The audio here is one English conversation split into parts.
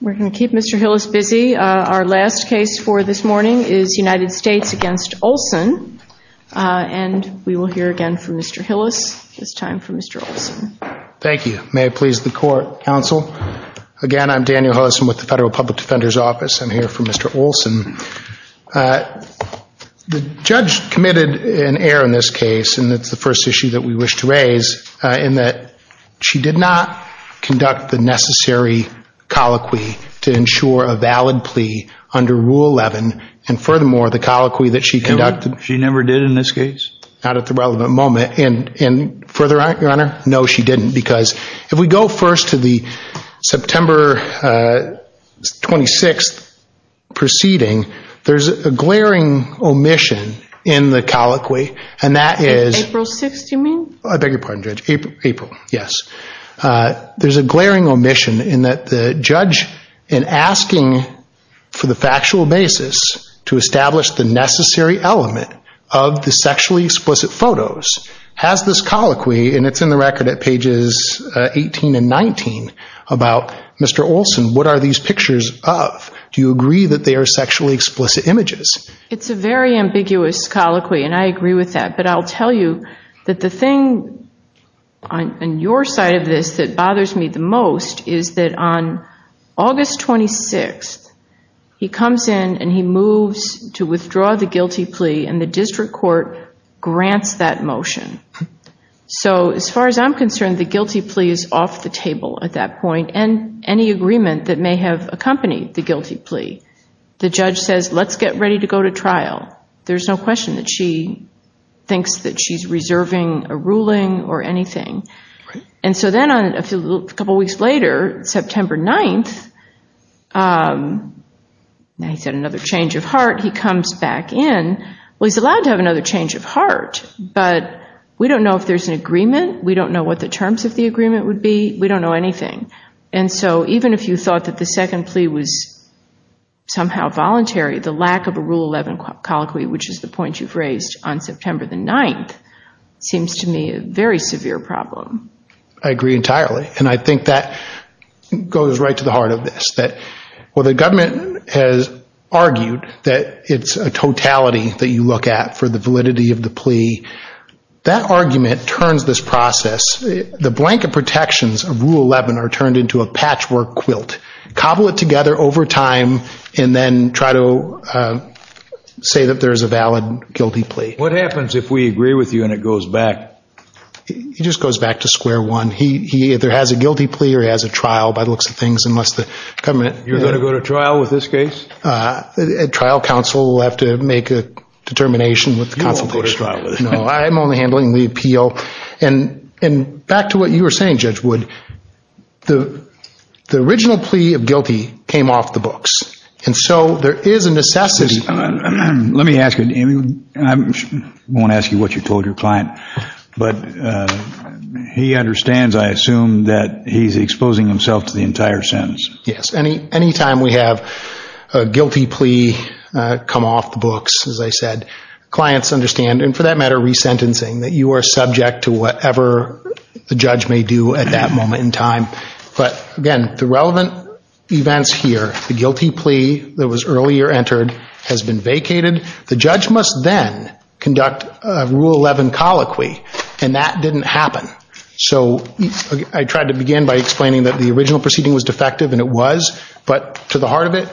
We're going to keep Mr. Hillis busy. Our last case for this morning is United States against Olson. And we will hear again from Mr. Hillis. It's time for Mr. Olson. Thank you. May it please the court, counsel. Again, I'm Daniel Hillison with the Federal Public Defender's Office. I'm here for Mr. Olson. The judge committed an error in this case. She did not conduct the necessary colloquy to ensure a valid plea under Rule 11. And furthermore, the colloquy that she conducted. She never did in this case? Not at the relevant moment. And further, Your Honor, no, she didn't. Because if we go first to the September 26th proceeding, there's a glaring omission in the colloquy. And that There's a glaring omission in that the judge, in asking for the factual basis to establish the necessary element of the sexually explicit photos, has this colloquy, and it's in the record at pages 18 and 19, about Mr. Olson, what are these pictures of? Do you agree that they are sexually explicit images? It's a very ambiguous colloquy, and I agree with that. But I'll tell you that the thing on your side of this that bothers me the most is that on August 26th, he comes in and he moves to withdraw the guilty plea, and the district court grants that motion. So as far as I'm concerned, the guilty plea is off the table at that point, and any agreement that may have accompanied the guilty plea. The judge says, let's get ready to go to trial. There's no question that she thinks that she's reserving a ruling or anything. And so then a couple weeks later, September 9th, he's had another change of heart, he comes back in. Well, he's allowed to have another change of heart, but we don't know if there's an agreement. We don't know what the terms of the agreement would be. We don't know anything. And so even if you thought that the second plea was somehow voluntary, the lack of a colloquy, which is the point you've raised on September the 9th, seems to me a very severe problem. I agree entirely. And I think that goes right to the heart of this, that while the government has argued that it's a totality that you look at for the validity of the plea, that argument turns this process, the blanket protections of Rule 11 are turned into a say that there is a valid guilty plea. What happens if we agree with you and it goes back? He just goes back to square one. He either has a guilty plea or he has a trial by the looks of things, unless the government... You're going to go to trial with this case? Trial counsel will have to make a determination with the counsel. You won't go to trial with it. No, I'm only handling the appeal. And back to what you were saying, Judge Wood, the original plea of guilty came off the books. And so there is a necessity. Let me ask you, I won't ask you what you told your client, but he understands, I assume, that he's exposing himself to the entire sentence. Yes. Any time we have a guilty plea come off the books, as I said, clients understand, and for that matter, resentencing, that you are subject to whatever the judge may do at that moment in time. But again, the relevant events here, the guilty plea that was earlier entered has been vacated. The judge must then conduct a Rule 11 colloquy, and that didn't happen. So I tried to begin by explaining that the original proceeding was defective, and it was, but to the heart of it,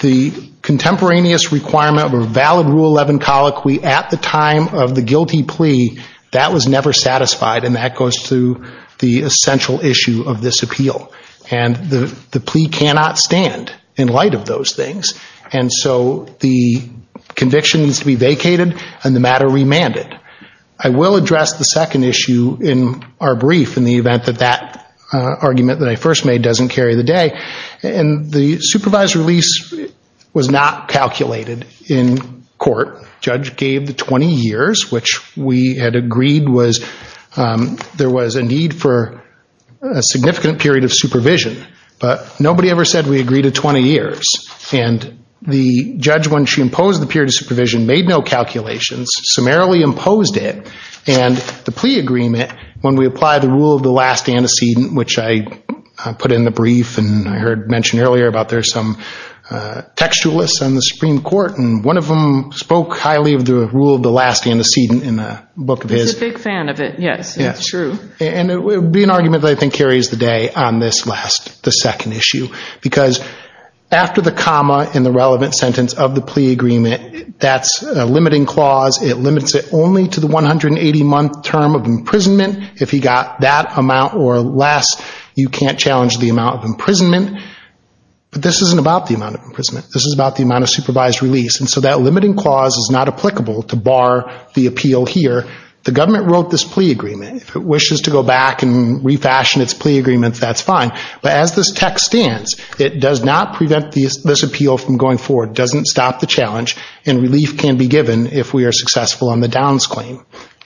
the contemporaneous requirement of a valid Rule 11 colloquy at the time of the guilty plea, that was never satisfied. And that goes through the essential issue of this appeal. And the plea cannot stand in light of those things. And so the conviction needs to be vacated and the matter remanded. I will address the second issue in our brief in the event that that argument that I first made doesn't carry the day. And the supervised release was not calculated in court. Judge gave the 20 years, which we had agreed was there was a need for a significant period of supervision. But nobody ever said we agreed to 20 years. And the judge, when she imposed the period of supervision, made no calculations, summarily imposed it. And the plea agreement, when we apply the rule of the last antecedent, which I put in the brief and I heard mentioned earlier about there's some textualists on the Supreme Court and one of them spoke highly of the rule of the last antecedent in the book of his. He's a big fan of it. Yes, it's true. And it would be an argument that I think carries the day on this last, the second issue, because after the comma in the relevant sentence of the plea agreement, that's a limiting clause. It limits it only to the 180 month term of imprisonment. If he got that amount or less, you can't challenge the amount of imprisonment. But this isn't about the amount of imprisonment. This is about the amount of supervised release. And so that limiting clause is not applicable to bar the appeal here. The government wrote this plea agreement. If it wishes to go back and refashion its plea agreement, that's fine. But as this text stands, it does not prevent this appeal from going forward, doesn't stop the challenge, and relief can be given if we are successful on the Downs claim.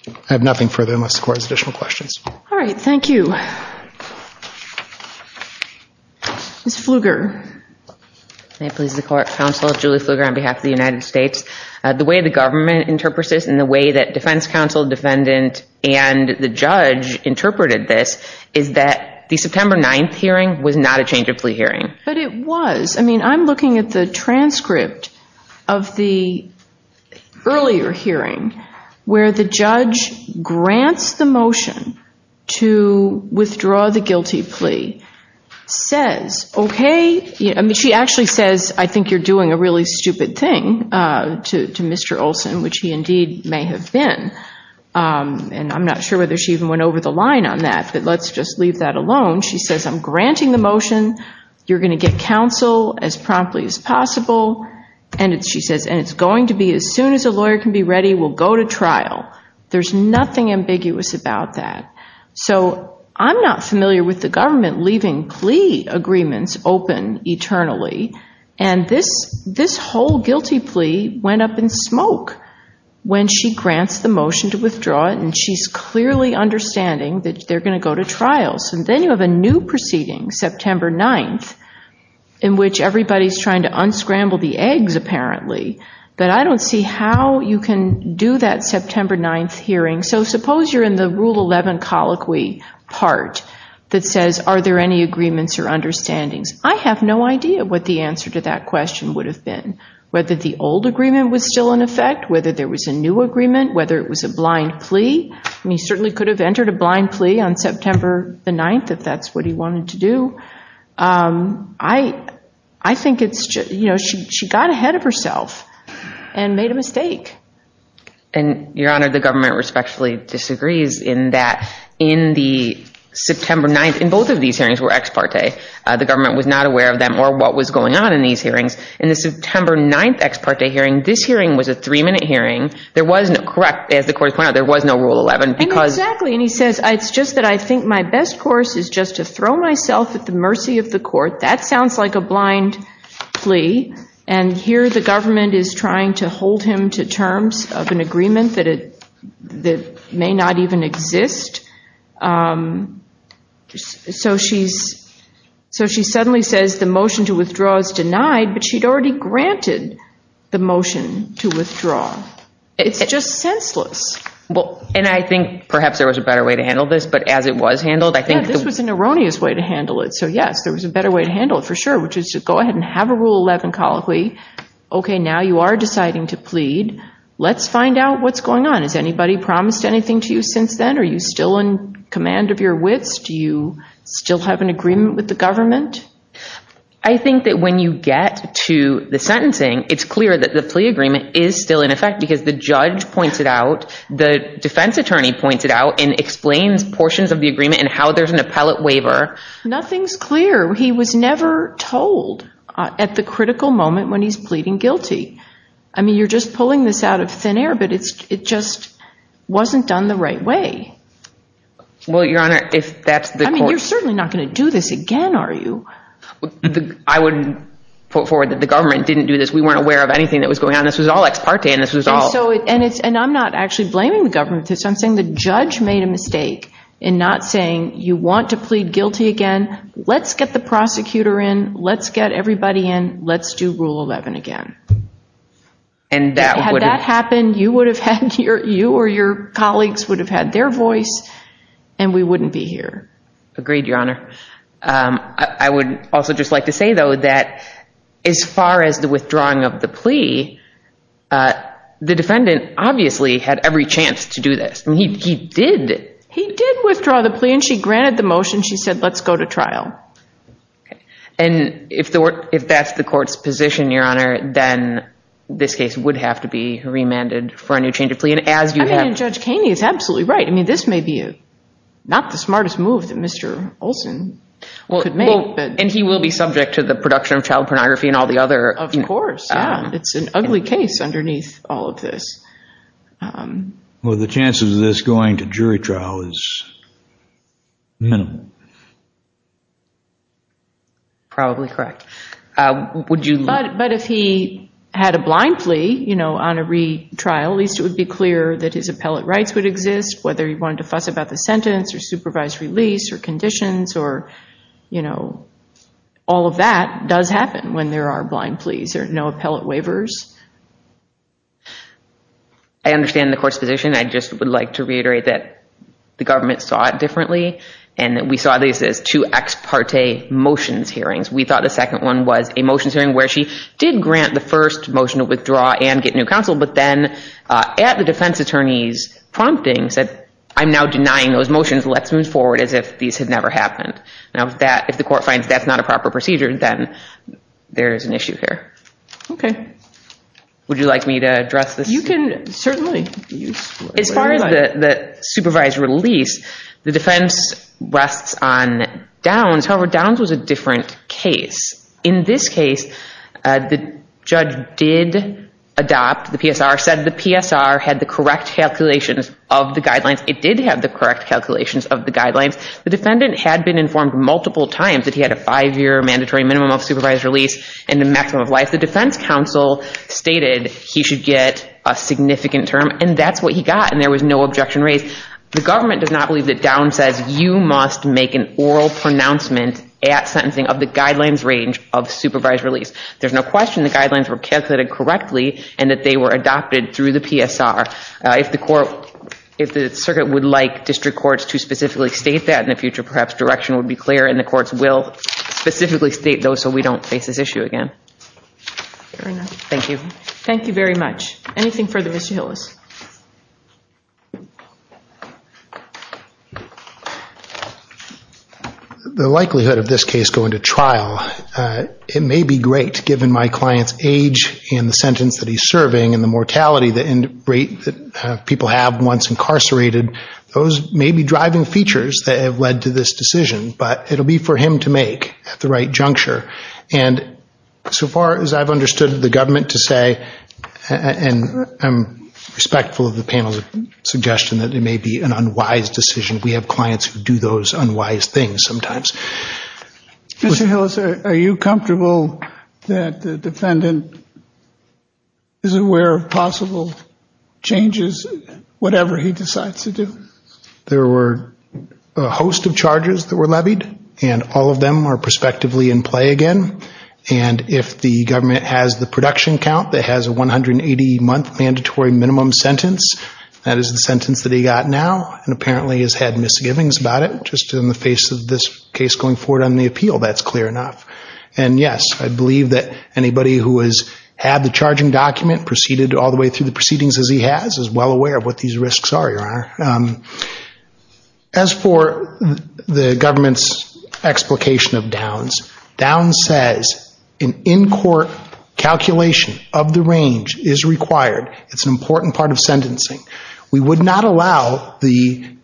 I have nothing further unless the court has additional questions. All right. Thank you. Ms. Pfluger. May it please the court, counsel, Julie Pfluger on behalf of the United States. The way the government interprets this and the way that defense counsel, defendant and the judge interpreted this is that the September 9th hearing was not a change of plea hearing. But it was. I mean, I'm looking at the transcript of the earlier hearing where the judge grants the motion to withdraw the guilty plea, says, okay. I mean, she actually says, I think you're doing a really stupid thing to Mr. Olson, which he indeed may have been. And I'm not sure whether she even went over the line on that, but let's just leave that alone. She says, I'm granting the motion. You're going to get counsel as promptly as possible. And she says, and it's going to be as soon as a lawyer can be ready, we'll go to trial. There's nothing ambiguous about that. So I'm not familiar with the government leaving plea agreements open eternally. And this whole guilty plea went up in smoke when she grants the motion to withdraw it. And she's clearly understanding that they're going to go to trials. And then you have a new proceeding, September 9th, in which everybody's trying to unscramble the eggs, apparently. But I don't see how you can do that September 9th hearing. So suppose you're in the Rule 11 colloquy part that says, are there any agreements or understandings? I have no idea what the answer to that question would have been, whether the old agreement was still in effect, whether there was a new agreement, whether it was a blind plea. I mean, he certainly could have entered a blind plea on September the 9th, if that's what he wanted to do. I think it's just, you know, she got ahead of herself and made a mistake. And Your Honor, the government respectfully disagrees in that in the September 9th, in both of these hearings were ex parte, the government was not aware of them or what was going on in these hearings. In the September 9th ex parte hearing, this hearing was a three minute hearing. There was no, correct, as the court pointed out, there was no Rule 11. And exactly. And he says, it's just that I think my best course is just to throw myself at the mercy of the court. That sounds like a blind plea. And here the government is trying to hold him to terms of an agreement that may not even exist. So she's, so she suddenly says the motion to withdraw is denied, but she'd already granted the motion to withdraw. It's just senseless. Well, and I think perhaps there was a better way to handle this, but as it was handled, I think this was an erroneous way to handle it. So yes, there was a better way to handle it for sure, which is to go ahead and have a Rule 11 colloquy. Okay. Now you are deciding to plead. Let's find out what's going on. Has anybody promised anything to you since then? Are you still in command of your wits? Do you still have an agreement with the government? I think that when you get to the sentencing, it's clear that the plea agreement is still in effect because the judge pointed out, the defense attorney pointed out and explains portions of the agreement and how there's an appellate waiver, nothing's clear. He was never told at the critical moment when he's pleading guilty. I mean, you're just pulling this out of thin air, but it's, it just wasn't done the right way. Well, Your Honor, if that's the, I mean, you're certainly not going to do this again. Are you, I would put forward that the government didn't do this. We weren't aware of anything that was going on. This was all ex parte and this was all, and it's, and I'm not actually blaming the government for this. I'm saying the judge made a mistake in not saying you want to plead guilty again. Let's get the prosecutor in. Let's get everybody in. Let's do rule 11 again. And that would have happened. You would have had your, you or your colleagues would have had their voice and we wouldn't be here. Agreed, Your Honor. Um, I would also just like to say though, that as far as the withdrawing of the plea, I mean, he, he did, he did withdraw the plea and she granted the motion. She said, let's go to trial. And if the work, if that's the court's position, Your Honor, then this case would have to be remanded for a new change of plea. And as you have, Judge Kaney is absolutely right. I mean, this may be not the smartest move that Mr. Olson could make, but, and he will be subject to the production of child pornography and all the other, of course, it's an ugly case underneath all of this. Um, Well, the chances of this going to jury trial is minimal. Probably correct. Uh, would you, But if he had a blind plea, you know, on a retrial, at least it would be clear that his appellate rights would exist, whether he wanted to fuss about the sentence or supervised release or conditions or, you know, all of that does happen when there are blind pleas. There are no appellate waivers. I understand the court's position. I just would like to reiterate that the government saw it differently and that we saw these as two ex parte motions hearings. We thought the second one was a motions hearing where she did grant the first motion to withdraw and get new counsel. But then, uh, at the defense attorney's prompting said, I'm now denying those motions, let's move forward as if these had never happened. Now that if the court finds that's not a proper procedure, then there is an issue here. Okay. Would you like me to address this? You can certainly. As far as the supervised release, the defense rests on Downs. However, Downs was a different case. In this case, uh, the judge did adopt the PSR said the PSR had the correct calculations of the guidelines. It did have the correct calculations of the guidelines. The defendant had been informed multiple times that he had a five-year mandatory minimum of supervised release and the maximum of life. The defense counsel stated he should get a significant term and that's what he got. And there was no objection raised. The government does not believe that Downs says you must make an oral pronouncement at sentencing of the guidelines range of supervised release. There's no question the guidelines were calculated correctly and that they were adopted through the PSR. Uh, if the court, if the circuit would like district courts to specifically state that in the future, perhaps direction would be clear and the courts will specifically state those. So we don't face this issue again. Thank you. Thank you very much. Anything further, Mr. Hillis? The likelihood of this case going to trial, uh, it may be great given my client's age and the sentence that he's serving and the mortality, the end rate that people have once incarcerated, those may be driving features that have led to this decision, but it'll be for him to make at the right I've understood the government to say, and I'm respectful of the panel's suggestion that it may be an unwise decision. We have clients who do those unwise things sometimes. Mr. Hillis, are you comfortable that the defendant is aware of possible changes, whatever he decides to do? There were a host of charges that were levied and all of them are prospectively in play again. And if the government has the production count that has a 180 month mandatory minimum sentence, that is the sentence that he got now. And apparently he's had misgivings about it just in the face of this case going forward on the appeal. That's clear enough. And yes, I believe that anybody who has had the charging document proceeded all the way through the proceedings as he has, is well aware of what these risks are, Your Honor. As for the government's explication of downs, downs says an in-court calculation of the range is required. It's an important part of sentencing. We would not allow the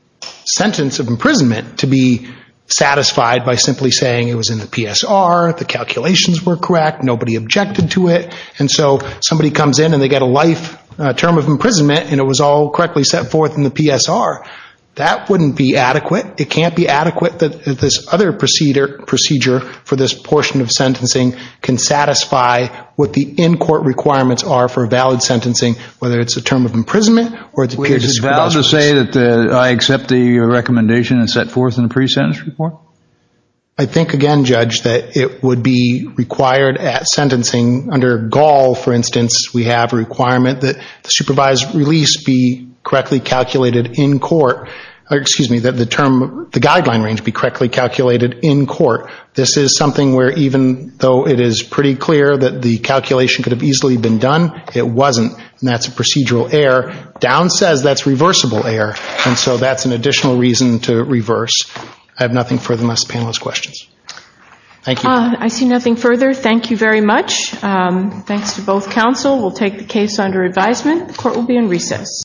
sentence of imprisonment to be satisfied by simply saying it was in the PSR, the calculations were correct, nobody objected to it. And so somebody comes in and they get a life term of imprisonment and it was correctly set forth in the PSR. That wouldn't be adequate. It can't be adequate that this other procedure for this portion of sentencing can satisfy what the in-court requirements are for valid sentencing, whether it's a term of imprisonment or it's a period of supervised release. Is it valid to say that I accept the recommendation and set forth in a pre-sentence report? I think again, Judge, that it would be required at sentencing under Gaul, for the guideline range to be correctly calculated in court, this is something where even though it is pretty clear that the calculation could have easily been done, it wasn't, and that's a procedural error, downs says that's reversible error, and so that's an additional reason to reverse. I have nothing further unless the panel has questions. Thank you. I see nothing further. Thank you very much. Thanks to both counsel. We'll take the case under advisement. The court will be in recess.